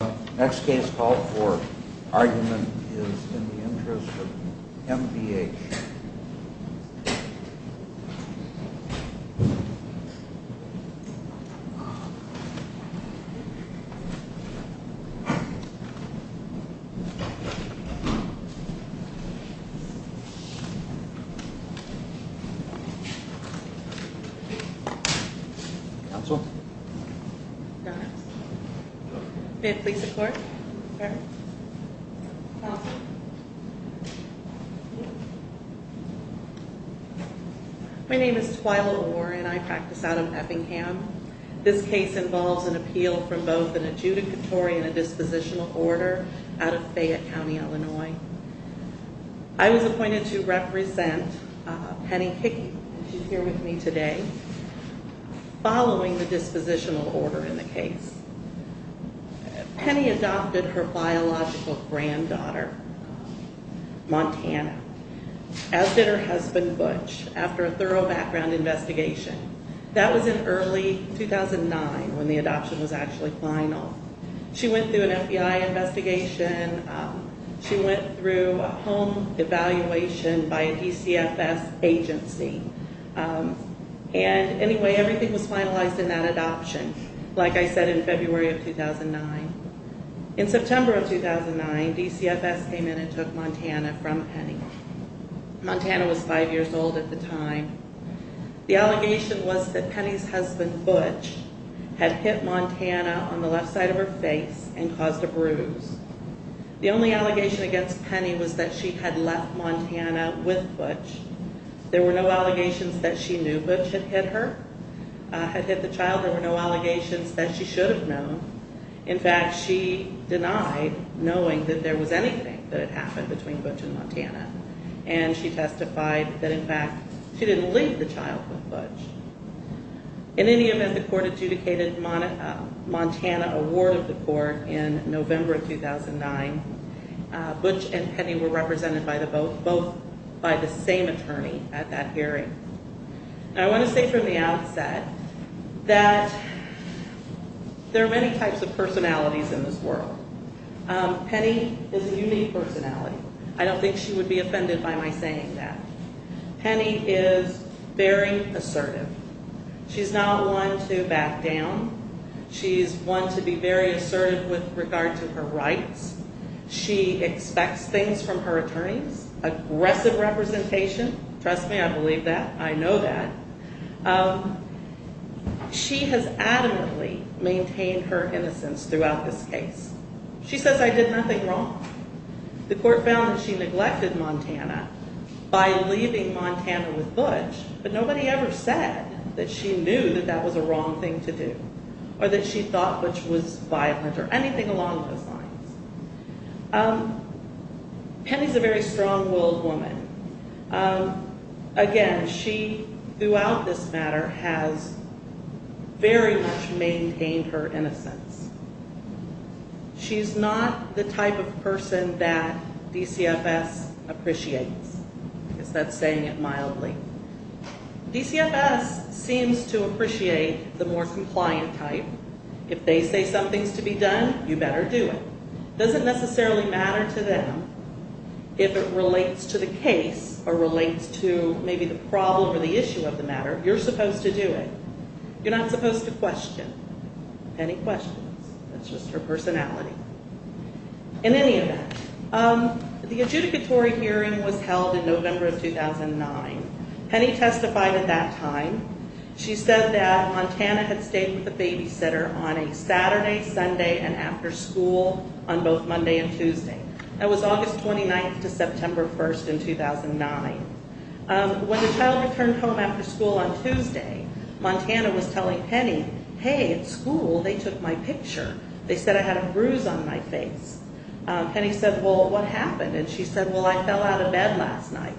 The next case called for argument is in the interest of M.B.H. Counsel? May it please the court? My name is Twyla Warren. I practice out of Eppingham. This case involves an appeal from both an adjudicatory and a dispositional order out of Fayette County, Illinois. I was appointed to represent Penny Kickey, who is here with me today. Following the dispositional order in the case, Penny adopted her biological granddaughter, Montana, as did her husband, Butch, after a thorough background investigation. That was in early 2009 when the adoption was actually final. She went through an FBI investigation. She went through a home evaluation by a DCFS agency. And anyway, everything was finalized in that adoption, like I said, in February of 2009. In September of 2009, DCFS came in and took Montana from Penny. Montana was five years old at the time. The allegation was that Penny's husband, Butch, had hit Montana on the left side of her face and caused a bruise. The only allegation against Penny was that she had left Montana with Butch. There were no allegations that she knew Butch had hit her, had hit the child. There were no allegations that she should have known. In fact, she denied knowing that there was anything that had happened between Butch and Montana. And she testified that, in fact, she didn't leave the child with Butch. In any event, the court adjudicated Montana a ward of the court in November of 2009. Butch and Penny were represented both by the same attorney at that hearing. And I want to say from the outset that there are many types of personalities in this world. Penny is a unique personality. I don't think she would be offended by my saying that. Penny is very assertive. She's not one to back down. She's one to be very assertive with regard to her rights. She expects things from her attorneys. Aggressive representation. Trust me, I believe that. I know that. She has adamantly maintained her innocence throughout this case. She says, I did nothing wrong. The court found that she neglected Montana by leaving Montana with Butch, but nobody ever said that she knew that that was a wrong thing to do or that she thought Butch was violent or anything along those lines. Penny's a very strong-willed woman. Again, she, throughout this matter, has very much maintained her innocence. She's not the type of person that DCFS appreciates. I guess that's saying it mildly. DCFS seems to appreciate the more compliant type. If they say something's to be done, you better do it. It doesn't necessarily matter to them if it relates to the case or relates to maybe the problem or the issue of the matter. You're not supposed to question. Penny questions. That's just her personality. In any event, the adjudicatory hearing was held in November of 2009. Penny testified at that time. She said that Montana had stayed with the babysitter on a Saturday, Sunday, and after school on both Monday and Tuesday. That was August 29th to September 1st in 2009. When the child returned home after school on Tuesday, Montana was telling Penny, hey, at school they took my picture. They said I had a bruise on my face. Penny said, well, what happened? She said, well, I fell out of bed last night.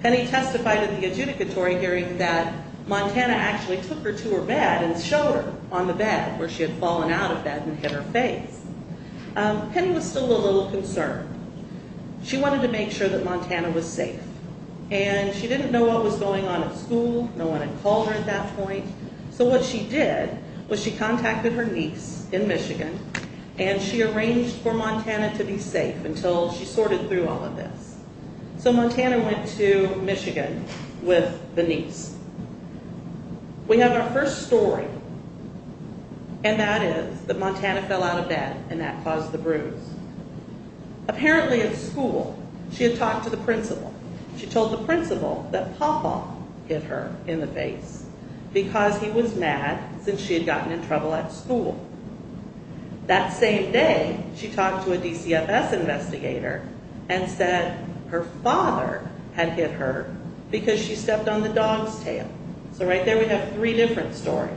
Penny testified at the adjudicatory hearing that Montana actually took her to her bed and showed her on the bed where she had fallen out of bed and hit her face. Penny was still a little concerned. She wanted to make sure that Montana was safe. She didn't know what was going on at school. No one had called her at that point. So what she did was she contacted her niece in Michigan, and she arranged for Montana to be safe until she sorted through all of this. So Montana went to Michigan with the niece. We have our first story, and that is that Montana fell out of bed, and that caused the bruise. Apparently at school she had talked to the principal. She told the principal that Papa hit her in the face because he was mad since she had gotten in trouble at school. That same day she talked to a DCFS investigator and said her father had hit her because she stepped on the dog's tail. So right there we have three different stories.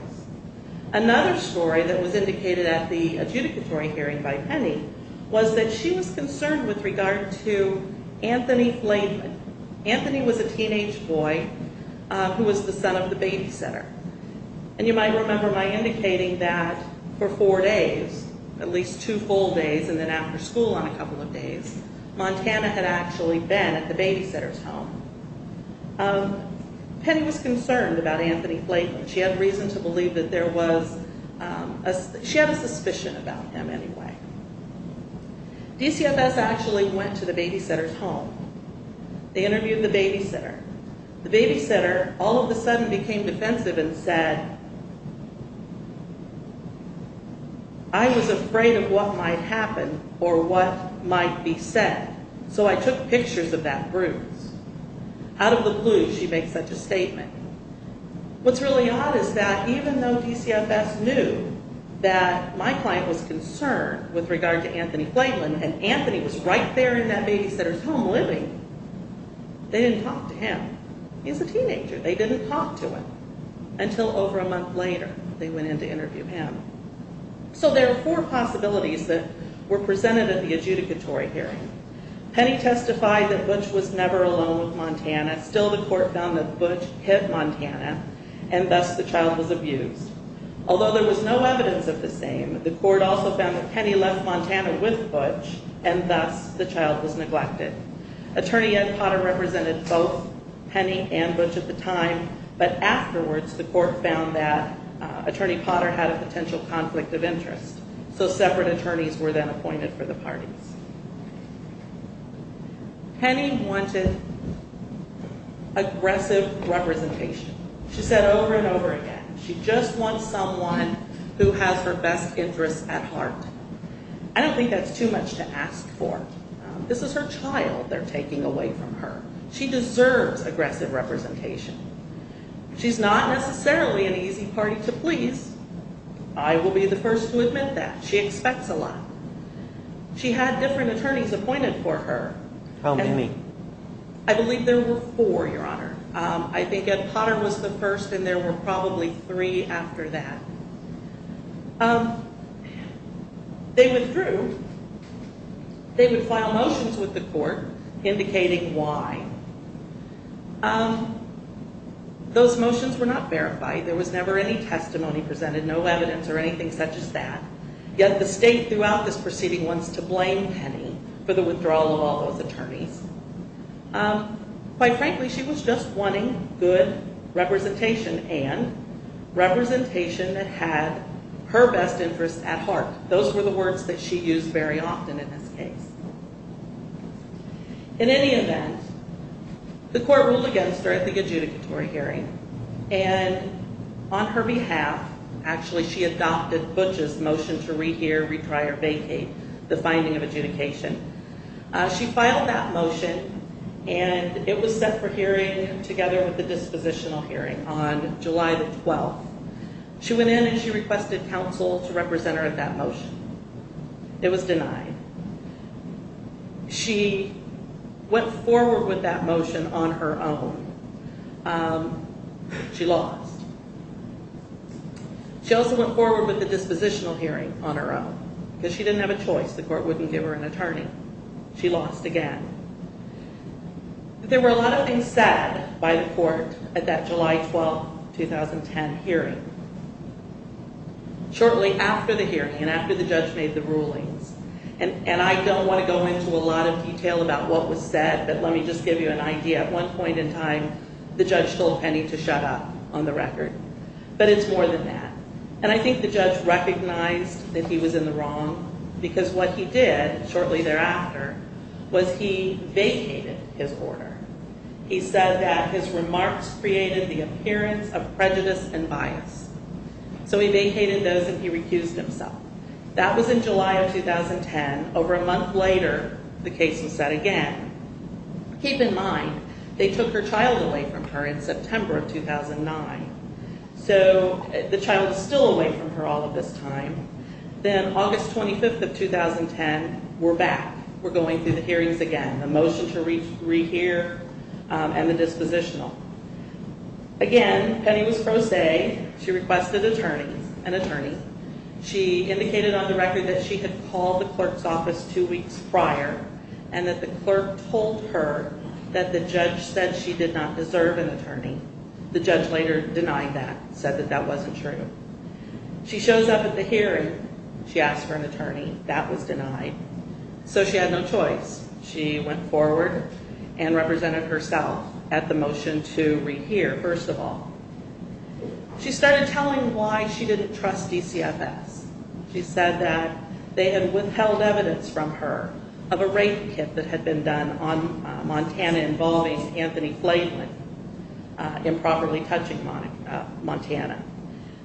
Another story that was indicated at the adjudicatory hearing by Penny was that she was concerned with regard to Anthony Flayton. Anthony was a teenage boy who was the son of the babysitter. And you might remember my indicating that for four days, at least two full days and then after school on a couple of days, Montana had actually been at the babysitter's home. Penny was concerned about Anthony Flayton. She had reason to believe that there was a suspicion about him anyway. DCFS actually went to the babysitter's home. They interviewed the babysitter. The babysitter all of a sudden became defensive and said, I was afraid of what might happen or what might be said, so I took pictures of that bruise. Out of the blue she makes such a statement. What's really odd is that even though DCFS knew that my client was concerned with regard to Anthony Flayton, and Anthony was right there in that babysitter's home living, they didn't talk to him. He's a teenager. They didn't talk to him until over a month later they went in to interview him. So there are four possibilities that were presented at the adjudicatory hearing. Penny testified that Butch was never alone with Montana. Still the court found that Butch hit Montana, and thus the child was abused. Although there was no evidence of the same, the court also found that Penny left Montana with Butch, and thus the child was neglected. Attorney Ed Potter represented both Penny and Butch at the time, but afterwards the court found that Attorney Potter had a potential conflict of interest, so separate attorneys were then appointed for the parties. Penny wanted aggressive representation. She said over and over again, she just wants someone who has her best interests at heart. I don't think that's too much to ask for. This is her child they're taking away from her. She deserves aggressive representation. She's not necessarily an easy party to please. I will be the first to admit that. She expects a lot. She had different attorneys appointed for her. How many? I believe there were four, Your Honor. I think Ed Potter was the first, and there were probably three after that. They withdrew. They would file motions with the court indicating why. Those motions were not verified. There was never any testimony presented, no evidence or anything such as that. Yet the state throughout this proceeding wants to blame Penny for the withdrawal of all those attorneys. Quite frankly, she was just wanting good representation and representation that had her best interests at heart. Those were the words that she used very often in this case. In any event, the court ruled against her at the adjudicatory hearing, and on her behalf, actually, she adopted Butch's motion to rehear, retry, or vacate the finding of adjudication. She filed that motion, and it was set for hearing together with the dispositional hearing on July the 12th. She went in and she requested counsel to represent her at that motion. It was denied. She went forward with that motion on her own. She lost. She also went forward with the dispositional hearing on her own because she didn't have a choice. The court wouldn't give her an attorney. She lost again. There were a lot of things said by the court at that July 12, 2010 hearing. Shortly after the hearing and after the judge made the rulings, and I don't want to go into a lot of detail about what was said, but let me just give you an idea. At one point in time, the judge told Penny to shut up on the record, but it's more than that. I think the judge recognized that he was in the wrong because what he did shortly thereafter was he vacated his order. He said that his remarks created the appearance of prejudice and bias, so he vacated those and he recused himself. That was in July of 2010. Over a month later, the case was set again. Keep in mind, they took her child away from her in September of 2009, so the child is still away from her all of this time. Then August 25, 2010, we're back. We're going through the hearings again, the motion to rehear and the dispositional. Again, Penny was pro se. She requested an attorney. She indicated on the record that she had called the clerk's office two weeks prior and that the clerk told her that the judge said she did not deserve an attorney. The judge later denied that, said that that wasn't true. She shows up at the hearing. She asked for an attorney. That was denied, so she had no choice. She went forward and represented herself at the motion to rehear, first of all. She started telling why she didn't trust DCFS. She said that they had withheld evidence from her of a rape kit that had been done on Montana involving Anthony Flayland improperly touching Montana.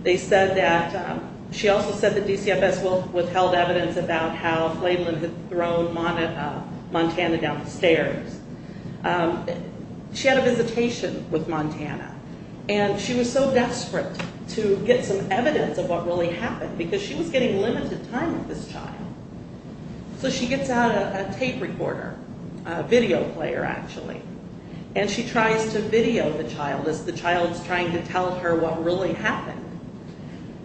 They said that she also said that DCFS withheld evidence about how Flayland had thrown Montana down the stairs. She was so desperate to get some evidence of what really happened because she was getting limited time with this child. So she gets out a tape recorder, a video player actually, and she tries to video the child as the child is trying to tell her what really happened.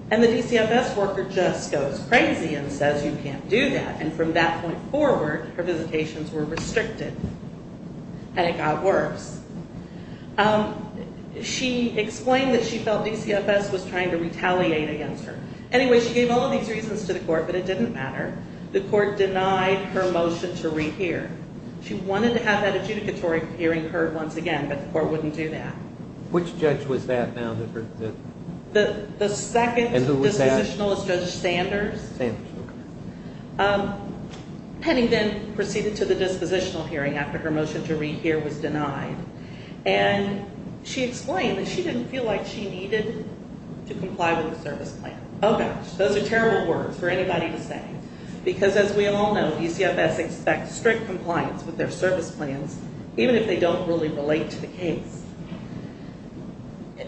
The DCFS worker just goes crazy and says, And from that point forward, her visitations were restricted, and it got worse. She explained that she felt DCFS was trying to retaliate against her. Anyway, she gave all of these reasons to the court, but it didn't matter. The court denied her motion to rehear. She wanted to have that adjudicatory hearing heard once again, but the court wouldn't do that. Which judge was that now? The second dispositional is Judge Sanders. Penny then proceeded to the dispositional hearing after her motion to rehear was denied, and she explained that she didn't feel like she needed to comply with the service plan. Oh, gosh, those are terrible words for anybody to say because, as we all know, DCFS expects strict compliance with their service plans even if they don't really relate to the case.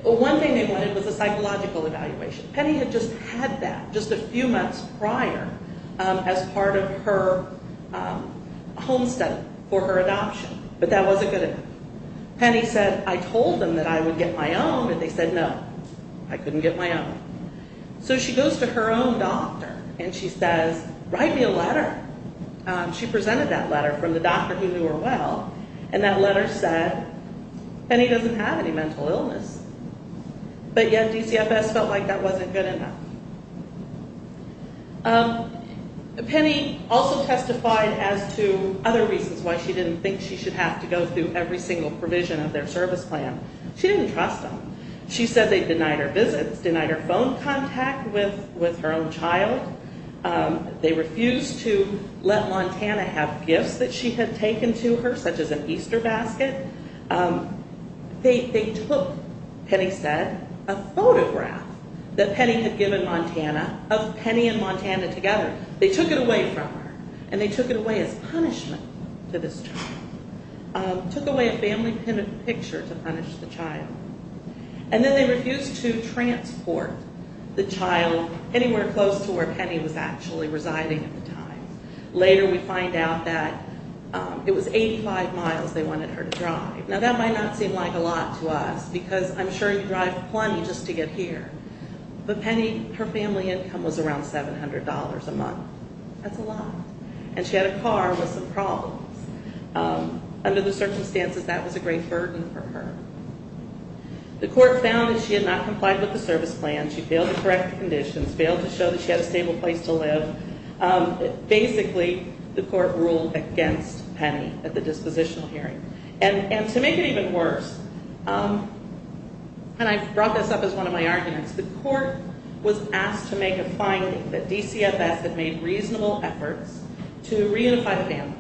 One thing they wanted was a psychological evaluation. Penny had just had that just a few months prior as part of her home study for her adoption, but that wasn't good enough. Penny said, I told them that I would get my own, and they said no. I couldn't get my own. So she goes to her own doctor, and she says, write me a letter. She presented that letter from the doctor who knew her well, and that letter said Penny doesn't have any mental illness, but yet DCFS felt like that wasn't good enough. Penny also testified as to other reasons why she didn't think she should have to go through every single provision of their service plan. She didn't trust them. She said they denied her visits, denied her phone contact with her own child. They refused to let Montana have gifts that she had taken to her such as an Easter basket. They took, Penny said, a photograph that Penny had given Montana of Penny and Montana together. They took it away from her, and they took it away as punishment to this child, took away a family picture to punish the child. And then they refused to transport the child anywhere close to where Penny was actually residing at the time. Later we find out that it was 85 miles they wanted her to drive. Now that might not seem like a lot to us because I'm sure you drive plenty just to get here, but Penny, her family income was around $700 a month. That's a lot, and she had a car with some problems. Under the circumstances, that was a great burden for her. The court found that she had not complied with the service plan. She failed to correct conditions, failed to show that she had a stable place to live. Basically, the court ruled against Penny at the dispositional hearing. And to make it even worse, and I brought this up as one of my arguments, the court was asked to make a finding that DCFS had made reasonable efforts to reunify the family.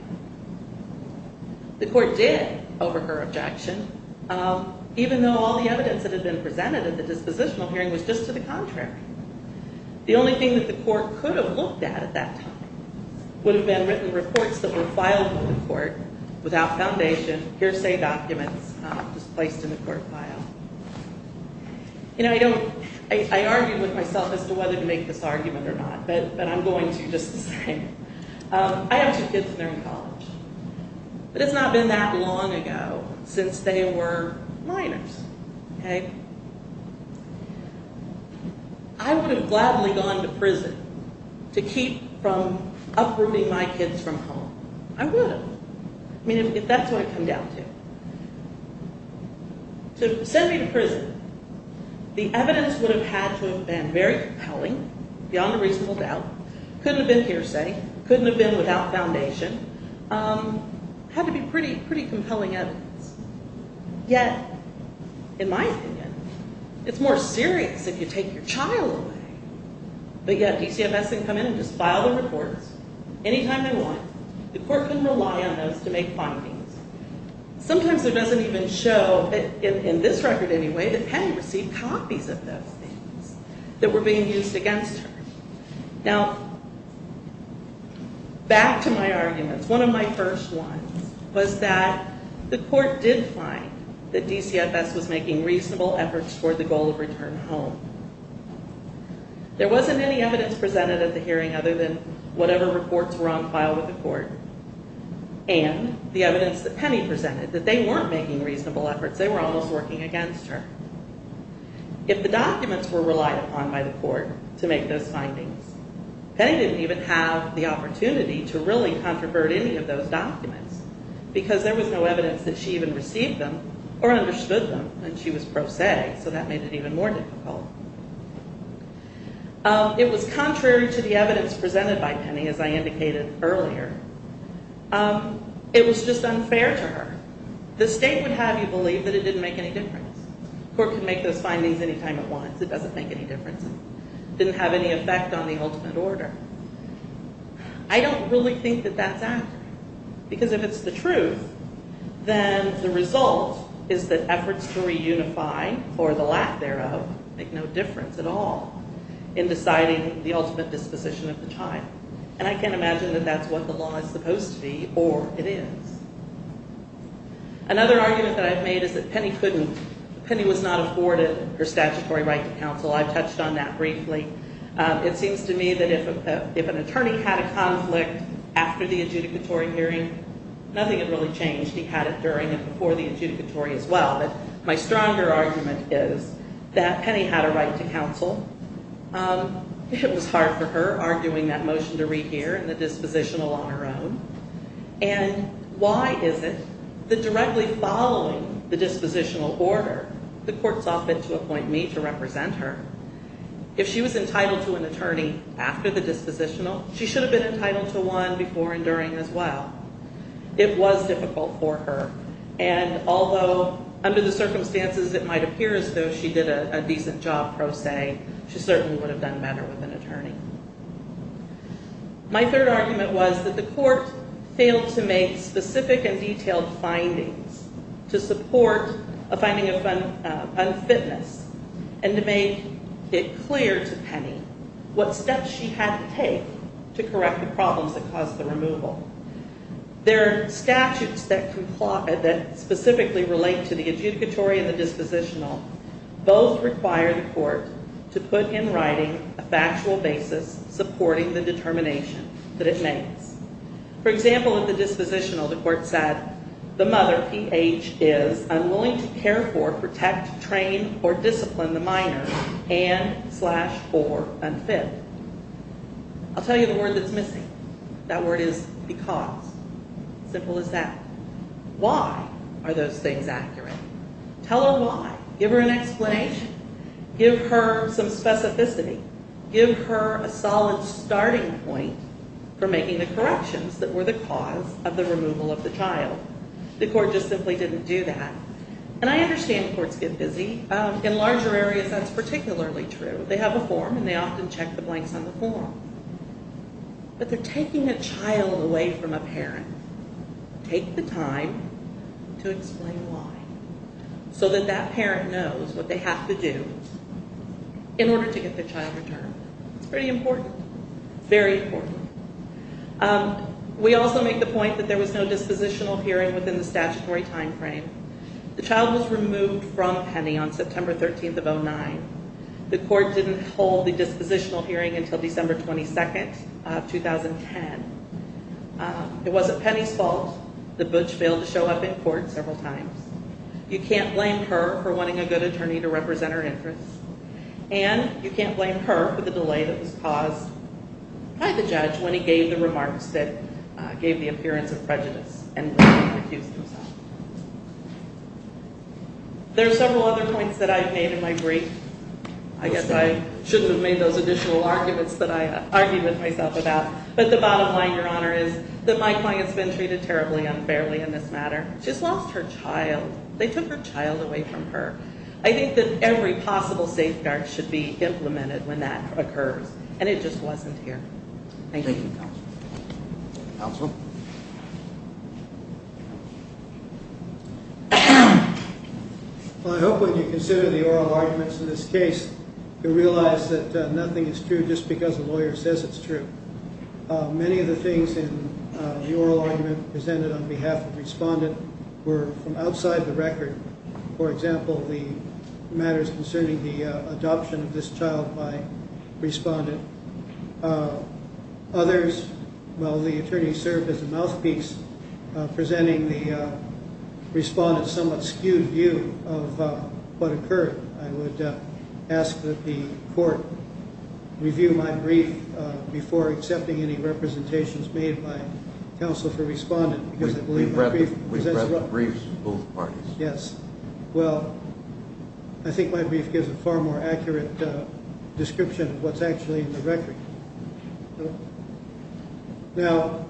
The court did over her objection, even though all the evidence that had been presented at the dispositional hearing was just to the contrary. The only thing that the court could have looked at at that time would have been written reports that were filed with the court without foundation, hearsay documents just placed in the court file. I argued with myself as to whether to make this argument or not, but I'm going to, just to say. I have two kids, and they're in college. But it's not been that long ago since they were minors. I would have gladly gone to prison to keep from uprooting my kids from home. I would have, if that's who I come down to. To send me to prison, the evidence would have had to have been very compelling, beyond a reasonable doubt, couldn't have been hearsay, couldn't have been without foundation, had to be pretty compelling evidence. Yet, in my opinion, it's more serious if you take your child away. But yet, DCFS can come in and just file the reports anytime they want. The court can rely on those to make findings. Sometimes it doesn't even show, in this record anyway, that Penny received copies of those things that were being used against her. Now, back to my arguments. One of my first ones was that the court did find that DCFS was making reasonable efforts toward the goal of return home. There wasn't any evidence presented at the hearing other than whatever reports were on file with the court and the evidence that Penny presented, that they weren't making reasonable efforts, they were almost working against her. If the documents were relied upon by the court to make those findings, Penny didn't even have the opportunity to really controvert any of those documents because there was no evidence that she even received them or understood them, and she was pro se, so that made it even more difficult. It was contrary to the evidence presented by Penny, as I indicated earlier. It was just unfair to her. The state would have you believe that it didn't make any difference. The court can make those findings anytime it wants. It doesn't make any difference. It didn't have any effect on the ultimate order. I don't really think that that's accurate because if it's the truth, then the result is that efforts to reunify for the lack thereof make no difference at all in deciding the ultimate disposition of the child, and I can't imagine that that's what the law is supposed to be or it is. Another argument that I've made is that Penny couldn't, Penny was not afforded her statutory right to counsel. I've touched on that briefly. It seems to me that if an attorney had a conflict after the adjudicatory hearing, nothing had really changed. He had it during and before the adjudicatory as well, but my stronger argument is that Penny had a right to counsel. It was hard for her, arguing that motion to rehear and the dispositional on her own, and why is it that directly following the dispositional order, the court's offered to appoint me to represent her. If she was entitled to an attorney after the dispositional, she should have been entitled to one before and during as well. It was difficult for her, and although under the circumstances it might appear as though she did a decent job pro se, she certainly would have done better with an attorney. My third argument was that the court failed to make specific and detailed findings to support a finding of unfitness and to make it clear to Penny what steps she had to take to correct the problems that caused the removal. There are statutes that specifically relate to the adjudicatory and the dispositional. Both require the court to put in writing a factual basis supporting the determination that it makes. For example, at the dispositional, the court said, the mother, P.H., is unwilling to care for, protect, train, or discipline the minor and, slash, or unfit. I'll tell you the word that's missing. That word is because. Simple as that. Why are those things accurate? Tell her why. Give her an explanation. Give her some specificity. Give her a solid starting point for making the corrections that were the cause of the removal of the child. The court just simply didn't do that. And I understand courts get busy. In larger areas, that's particularly true. They have a form, and they often check the blanks on the form. But they're taking a child away from a parent. Take the time to explain why. So that that parent knows what they have to do in order to get their child returned. It's pretty important. Very important. We also make the point that there was no dispositional hearing within the statutory timeframe. The child was removed from Penny on September 13th of 2009. The court didn't hold the dispositional hearing until December 22nd of 2010. It wasn't Penny's fault. The butch failed to show up in court several times. You can't blame her for wanting a good attorney to represent her interests. And you can't blame her for the delay that was caused by the judge when he gave the remarks that gave the appearance of prejudice and refused himself. There are several other points that I've made in my brief. I guess I shouldn't have made those additional arguments that I argued with myself about. But the bottom line, Your Honor, is that my client's been treated terribly unfairly in this matter. She's lost her child. They took her child away from her. I think that every possible safeguard should be implemented when that occurs. And it just wasn't here. Thank you. Thank you, Counsel. Counsel? Well, I hope when you consider the oral arguments in this case, you realize that nothing is true just because a lawyer says it's true. Many of the things in the oral argument presented on behalf of the respondent were from outside the record. For example, the matters concerning the adoption of this child by the respondent. Others, well, the attorney served as a mouthpiece presenting the respondent's somewhat skewed view of what occurred. I would ask that the court review my brief before accepting any representations made by counsel for respondent. We've read the briefs of both parties. Yes. Well, I think my brief gives a far more accurate description of what's actually in the record. Now,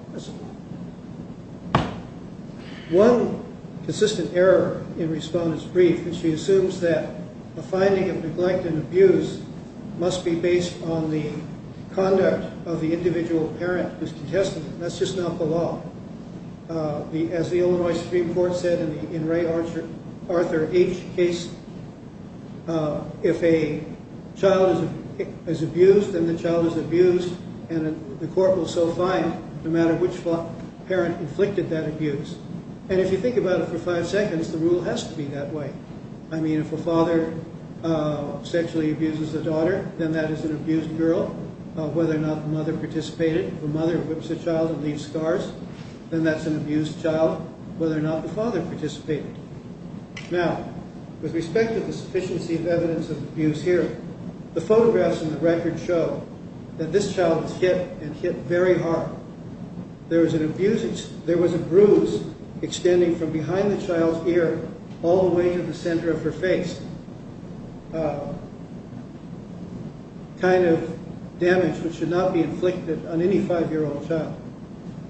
one consistent error in respondent's brief is she assumes that a finding of neglect and abuse must be based on the conduct of the individual parent who's contested. That's just not the law. As the Illinois Supreme Court said in Ray Arthur H. case, if a child is abused and the child is abused, and the court will so find no matter which parent inflicted that abuse. And if you think about it for five seconds, the rule has to be that way. I mean, if a father sexually abuses a daughter, then that is an abused girl. Whether or not the mother participated, the mother whips the child and leaves scars, then that's an abused child. Whether or not the father participated. Now, with respect to the sufficiency of evidence of abuse here, the photographs in the record show that this child was hit and hit very hard. There was an abuse, there was a bruise extending from behind the child's ear all the way to the center of her face. Kind of damage which should not be inflicted on any five-year-old child.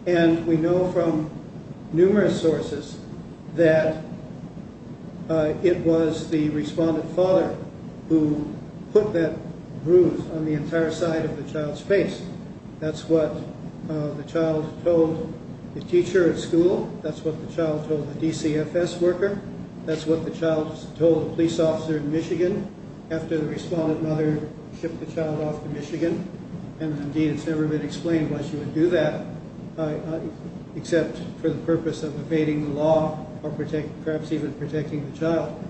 And we know from numerous sources that it was the respondent father who put that bruise on the entire side of the child's face. That's what the child told the teacher at school. That's what the child told the DCFS worker. That's what the child told the police officer in Michigan after the respondent mother shipped the child off to Michigan. And indeed, it's never been explained why she would do that except for the purpose of evading the law or perhaps even protecting the child.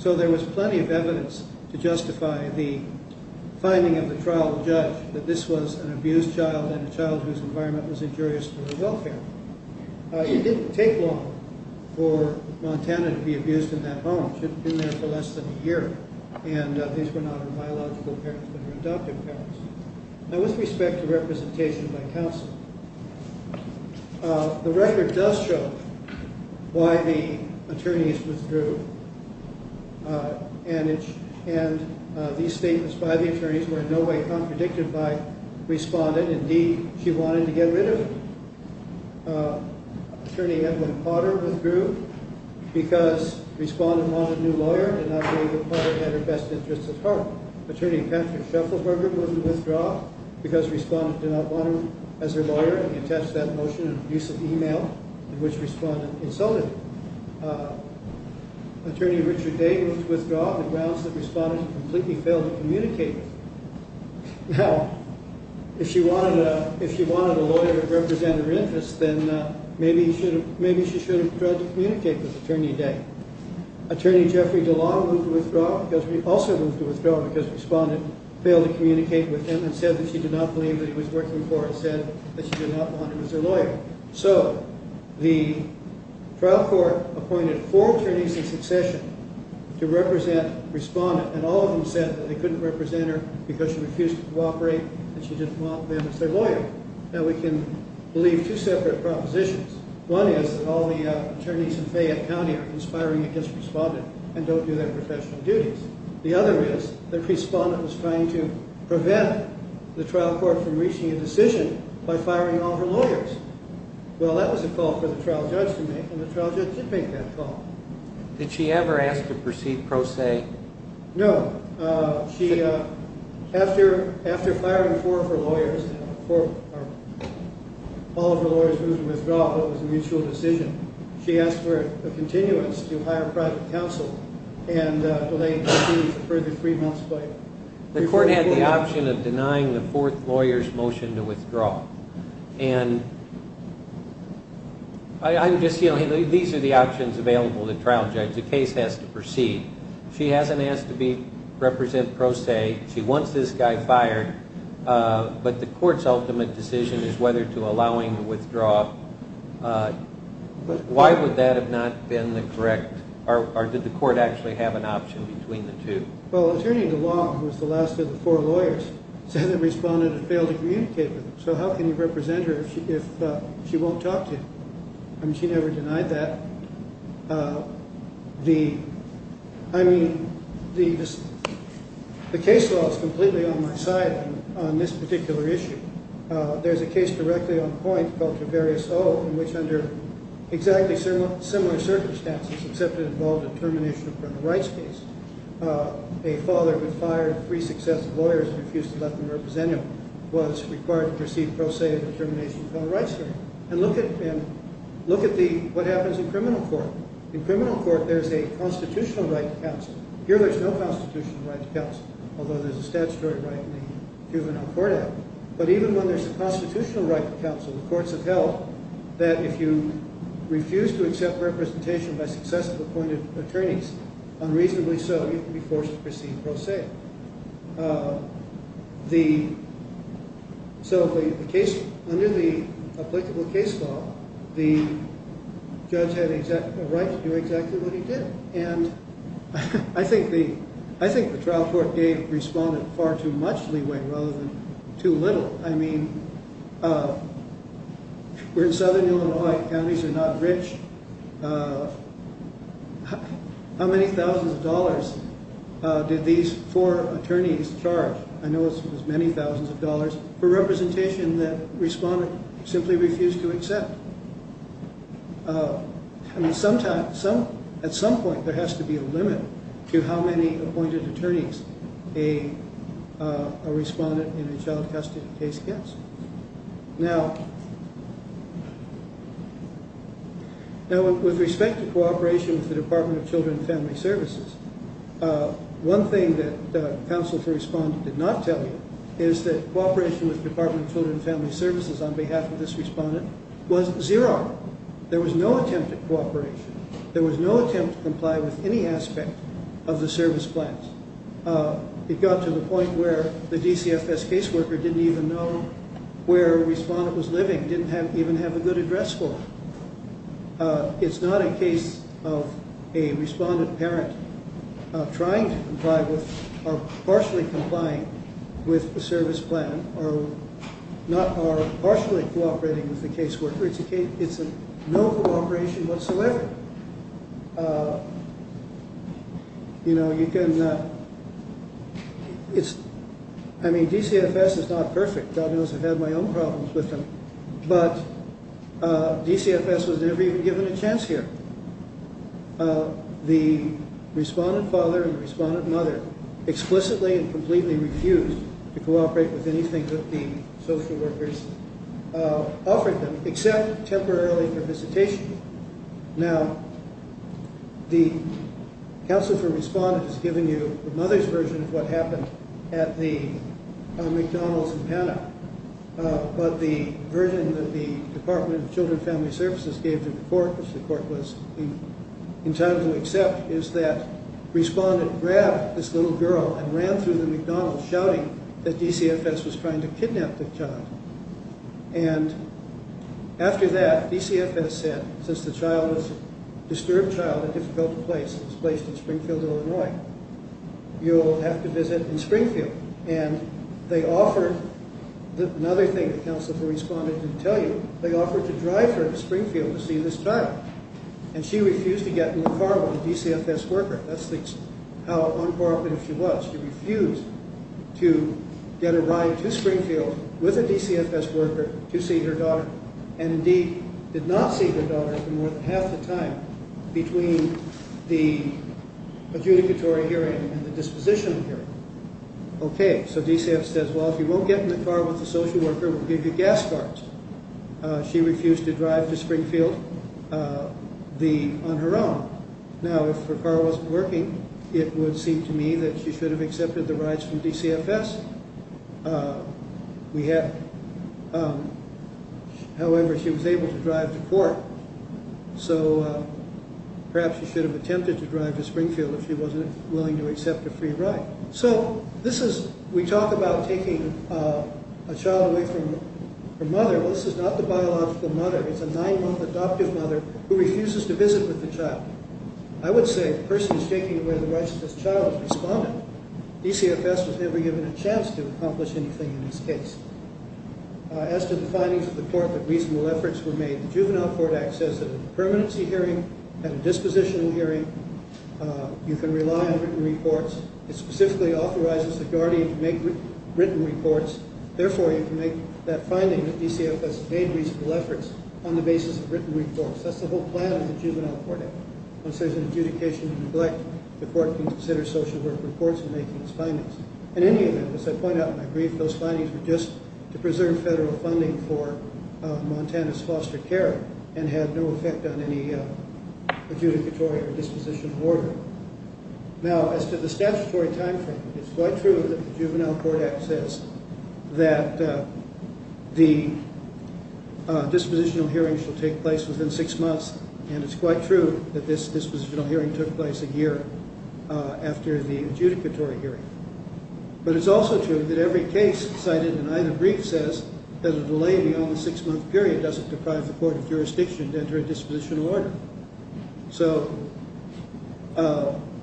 So there was plenty of evidence to justify the finding of the trial judge that this was an abused child and a child whose environment was injurious to their welfare. It didn't take long for Montana to be abused in that home. She had been there for less than a year. And these were not her biological parents but her adoptive parents. Now with respect to representation by counsel, the record does show why the attorneys withdrew. And these statements by the attorneys were in no way contradicted by the respondent. Indeed, she wanted to get rid of him. Attorney Evelyn Potter withdrew because the respondent wanted a new lawyer and not because Potter had her best interests at heart. Attorney Patrick Shufflesberger wouldn't withdraw because the respondent did not want him as her lawyer. He attached that motion in an abusive email in which the respondent insulted him. Attorney Richard Day withdrew on the grounds that the respondent completely failed to communicate with him. Now, if she wanted a lawyer to represent her interests, then maybe she should have tried to communicate with Attorney Day. Attorney Jeffrey DeLong withdrew because the respondent failed to communicate with him and said that she did not believe that he was working for her. And the respondent said that she did not want him as her lawyer. So the trial court appointed four attorneys in succession to represent the respondent. And all of them said that they couldn't represent her because she refused to cooperate and she didn't want them as her lawyer. Now we can believe two separate propositions. One is that all the attorneys in Fayette County are conspiring against the respondent and don't do their professional duties. The other is that the respondent was trying to prevent the trial court from reaching a decision by firing all her lawyers. Well, that was a call for the trial judge to make, and the trial judge did make that call. Did she ever ask to proceed pro se? No. After firing four of her lawyers, all of her lawyers who withdrew, it was a mutual decision. She asked for a continuance to hire private counsel and delay proceedings a further three months later. The court had the option of denying the fourth lawyer's motion to withdraw. And I'm just, you know, these are the options available to trial judge. The case has to proceed. She hasn't asked to represent pro se. She wants this guy fired. But the court's ultimate decision is whether to allow him to withdraw. Why would that have not been the correct, or did the court actually have an option between the two? Well, attorney DeLong, who was the last of the four lawyers, said the respondent had failed to communicate with him. So how can you represent her if she won't talk to you? I mean, she never denied that. I mean, the case law is completely on my side on this particular issue. There's a case directly on point called Traverius O, in which, under exactly similar circumstances, except it involved a termination of criminal rights case, a father who fired three successive lawyers and refused to let them represent him was required to proceed pro se of the termination of criminal rights here. And look at what happens in criminal court. In criminal court, there's a constitutional right to counsel. Here, there's no constitutional right to counsel, although there's a statutory right in the juvenile court act. But even when there's a constitutional right to counsel, the courts have held that if you refuse to accept representation by successive appointed attorneys, unreasonably so, you can be forced to proceed pro se. So under the applicable case law, the judge had a right to do exactly what he did. And I think the trial court gave respondent far too much leeway rather than too little. I mean, we're in southern Illinois. Counties are not rich. How many thousands of dollars did these four attorneys charge? I know it was many thousands of dollars for representation that respondent simply refused to accept. I mean, at some point, there has to be a limit to how many appointed attorneys a respondent in a child custody case gets. Now, with respect to cooperation with the Department of Children and Family Services, one thing that counsel for respondent did not tell you is that cooperation with Department of Children and Family Services on behalf of this respondent was zero. There was no attempt at cooperation. There was no attempt to comply with any aspect of the service plans. It got to the point where the DCFS caseworker didn't even know where respondent was living, didn't even have a good address for him. It's not a case of a respondent parent trying to comply with or partially complying with the service plan or partially cooperating with the caseworker. It's no cooperation whatsoever. You know, you can, it's, I mean, DCFS is not perfect. God knows I've had my own problems with them, but DCFS was never even given a chance here. The respondent father and respondent mother explicitly and completely refused to cooperate with anything that the social workers offered them except temporarily for visitation. Now, the counsel for respondent has given you the mother's version of what happened at the McDonald's in Panama, but the version that the Department of Children and Family Services gave to the court, which the court was entitled to accept, is that respondent grabbed this little girl and ran through the McDonald's shouting that DCFS was trying to kidnap the child. And after that, DCFS said, since the child was a disturbed child in a difficult place, displaced in Springfield, Illinois, you'll have to visit in Springfield. And they offered, another thing the counsel for respondent didn't tell you, they offered to drive her to Springfield to see this child. And she refused to get in the car with a DCFS worker. That's how uncooperative she was. She refused to get a ride to Springfield with a DCFS worker to see her daughter, and indeed did not see her daughter for more than half the time between the adjudicatory hearing and the dispositional hearing. Okay, so DCFS says, well, if you won't get in the car with the social worker, we'll give you gas cards. She refused to drive to Springfield on her own. Now, if her car wasn't working, it would seem to me that she should have accepted the rides from DCFS. However, she was able to drive to court. So perhaps she should have attempted to drive to Springfield if she wasn't willing to accept a free ride. So this is, we talk about taking a child away from her mother. Well, this is not the biological mother. It's a nine-month adoptive mother who refuses to visit with the child. I would say the person who's taking away the rights of this child is respondent. DCFS was never given a chance to accomplish anything in this case. As to the findings of the court that reasonable efforts were made, the Juvenile Court Act says that in a permanency hearing and a dispositional hearing, you can rely on written reports. It specifically authorizes the guardian to make written reports. Therefore, you can make that finding that DCFS made reasonable efforts on the basis of written reports. That's the whole plan of the Juvenile Court Act. Once there's an adjudication in neglect, the court can consider social work reports in making its findings. In any event, as I point out in my brief, those findings were just to preserve federal funding for Montana's foster care and had no effect on any adjudicatory or dispositional order. Now, as to the statutory time frame, it's quite true that the Juvenile Court Act says that the dispositional hearing should take place within six months, and it's quite true that this dispositional hearing took place a year after the adjudicatory hearing. But it's also true that every case cited in either brief says that a delay beyond the six-month period doesn't deprive the court of jurisdiction to enter a dispositional order. So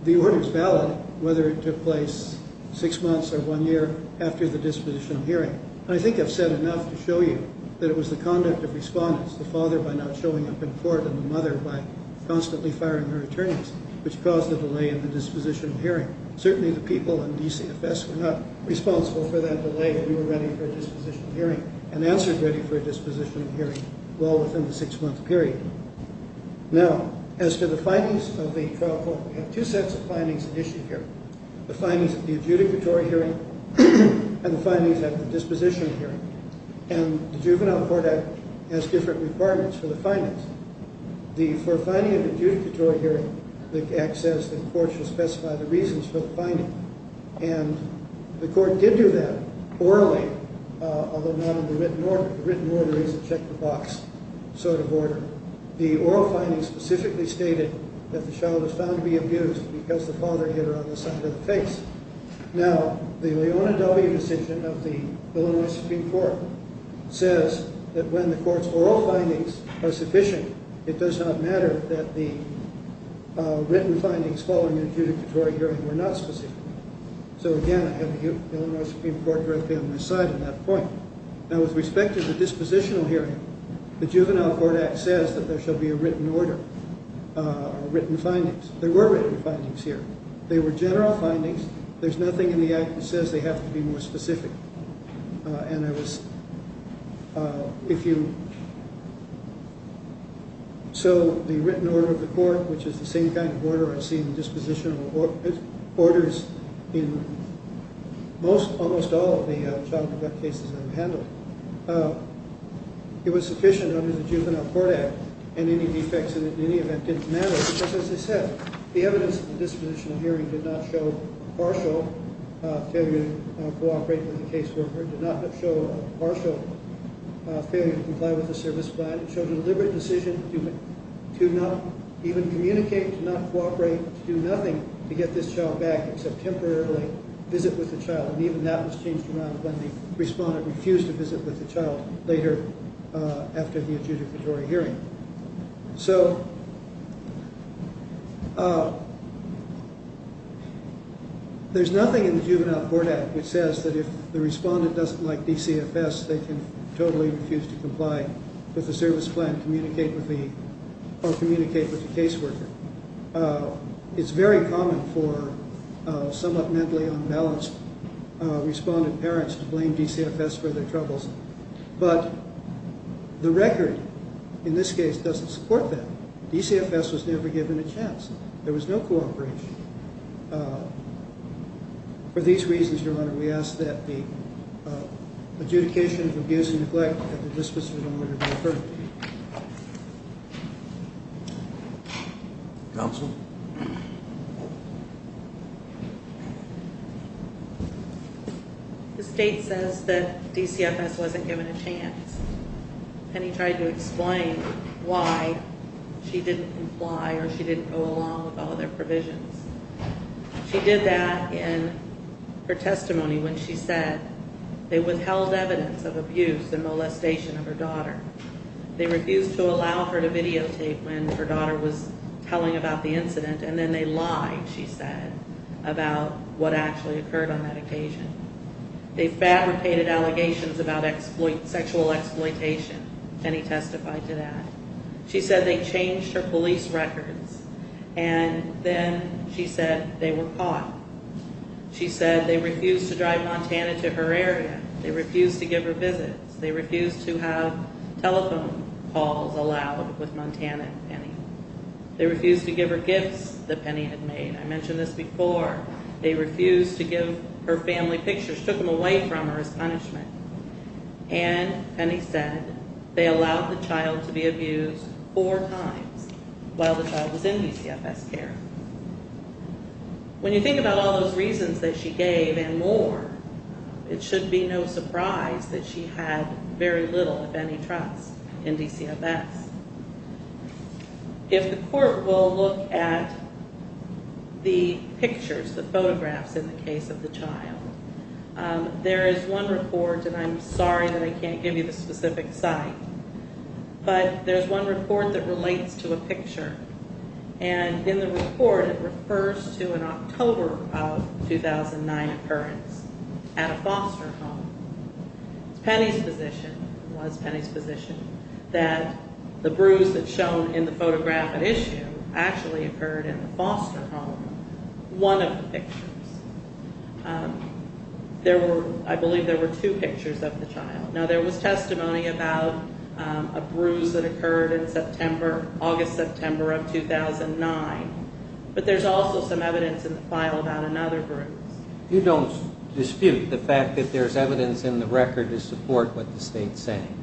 the order's valid whether it took place six months or one year after the dispositional hearing. And I think I've said enough to show you that it was the conduct of respondents, the father by not showing up in court and the mother by constantly firing her attorneys, which caused a delay in the dispositional hearing. Certainly the people in DCFS were not responsible for that delay when we were ready for a dispositional hearing and answered ready for a dispositional hearing well within the six-month period. Now, as to the findings of the trial court, we have two sets of findings at issue here, the findings of the adjudicatory hearing and the findings of the dispositional hearing. And the Juvenile Court Act has different requirements for the findings. For a finding of an adjudicatory hearing, the Act says that the court should specify the reasons for the finding. And the court did do that orally, although not in the written order. It's a check-the-box sort of order. The oral findings specifically stated that the child was found to be abused because the father hit her on the side of the face. Now, the Leona W. decision of the Illinois Supreme Court says that when the court's oral findings are sufficient, it does not matter that the written findings following the adjudicatory hearing were not specific. So, again, I have the Illinois Supreme Court directly on my side on that point. Now, with respect to the dispositional hearing, the Juvenile Court Act says that there shall be a written order, written findings. There were written findings here. They were general findings. There's nothing in the Act that says they have to be more specific. And I was – if you – so the written order of the court, which is the same kind of order I've seen in dispositional orders in most – almost all of the child neglect cases I've handled, it was sufficient under the Juvenile Court Act, and any defects in any event didn't matter because, as I said, the evidence in the dispositional hearing did not show partial failure to cooperate with the caseworker, did not show partial failure to comply with the service plan. It showed a deliberate decision to not even communicate, to not cooperate, to do nothing to get this child back except temporarily visit with the child. And even that was changed around when the respondent refused to visit with the child later after the adjudicatory hearing. So there's nothing in the Juvenile Court Act which says that if the respondent doesn't like DCFS, they can totally refuse to comply with the service plan, communicate with the – or communicate with the caseworker. It's very common for somewhat mentally unbalanced respondent parents to blame DCFS for their troubles. But the record in this case doesn't support that. DCFS was never given a chance. There was no cooperation. For these reasons, Your Honor, we ask that the adjudication of abuse and neglect at the dispositional order be deferred. Counsel? Counsel? The state says that DCFS wasn't given a chance. Penny tried to explain why she didn't comply or she didn't go along with all their provisions. She did that in her testimony when she said they withheld evidence of abuse and molestation of her daughter. They refused to allow her to videotape when her daughter was telling about the incident. And then they lied, she said, about what actually occurred on that occasion. They fabricated allegations about sexual exploitation. Penny testified to that. She said they changed her police records. And then she said they were caught. She said they refused to drive Montana to her area. They refused to give her visits. They refused to have telephone calls allowed with Montana and Penny. They refused to give her gifts that Penny had made. I mentioned this before. They refused to give her family pictures. Took them away from her as punishment. And Penny said they allowed the child to be abused four times while the child was in DCFS care. When you think about all those reasons that she gave and more, it should be no surprise that she had very little, if any, trust in DCFS. If the court will look at the pictures, the photographs in the case of the child, there is one report, and I'm sorry that I can't give you the specific site, but there's one report that relates to a picture. And in the report, it refers to an October of 2009 occurrence at a foster home. It's Penny's position, was Penny's position, that the bruise that's shown in the photograph at issue actually occurred in the foster home, one of the pictures. There were, I believe there were two pictures of the child. Now, there was testimony about a bruise that occurred in September, August, September of 2009. But there's also some evidence in the file about another bruise. You don't dispute the fact that there's evidence in the record to support what the state's saying.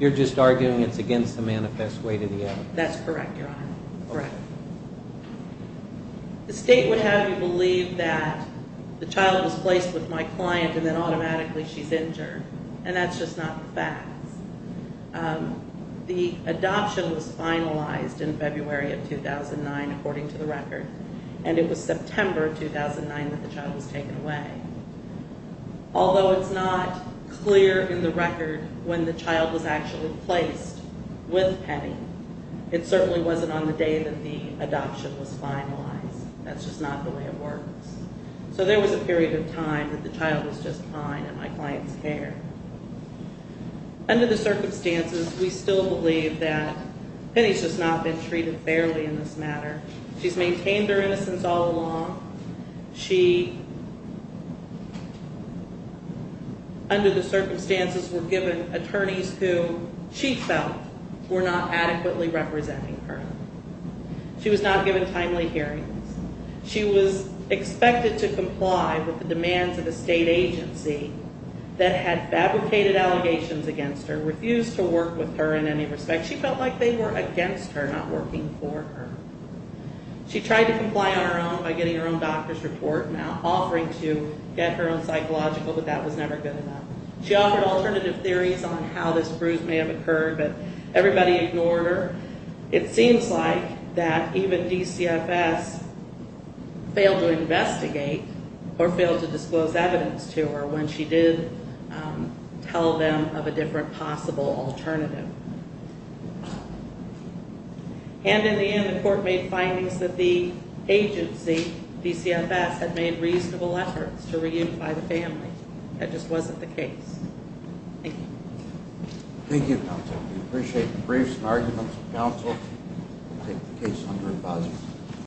You're just arguing it's against the manifest way to the evidence. That's correct, Your Honor. Correct. The state would have you believe that the child was placed with my client and then automatically she's injured, and that's just not the fact. The adoption was finalized in February of 2009, according to the record, and it was September 2009 that the child was taken away. Although it's not clear in the record when the child was actually placed with Penny, it certainly wasn't on the day that the adoption was finalized. That's just not the way it works. So there was a period of time that the child was just fine in my client's care. Under the circumstances, we still believe that Penny's just not been treated fairly in this matter. She's maintained her innocence all along. She, under the circumstances, were given attorneys who she felt were not adequately representing her. She was not given timely hearings. She was expected to comply with the demands of a state agency that had fabricated allegations against her, refused to work with her in any respect. She felt like they were against her, not working for her. She tried to comply on her own by getting her own doctor's report and offering to get her own psychological, but that was never good enough. She offered alternative theories on how this bruise may have occurred, but everybody ignored her. It seems like that even DCFS failed to investigate or failed to disclose evidence to her when she did tell them of a different possible alternative. And in the end, the court made findings that the agency, DCFS, had made reasonable efforts to reunify the family. That just wasn't the case. Thank you. Thank you, counsel. We appreciate the briefs and arguments of counsel. We'll take the case under advisory.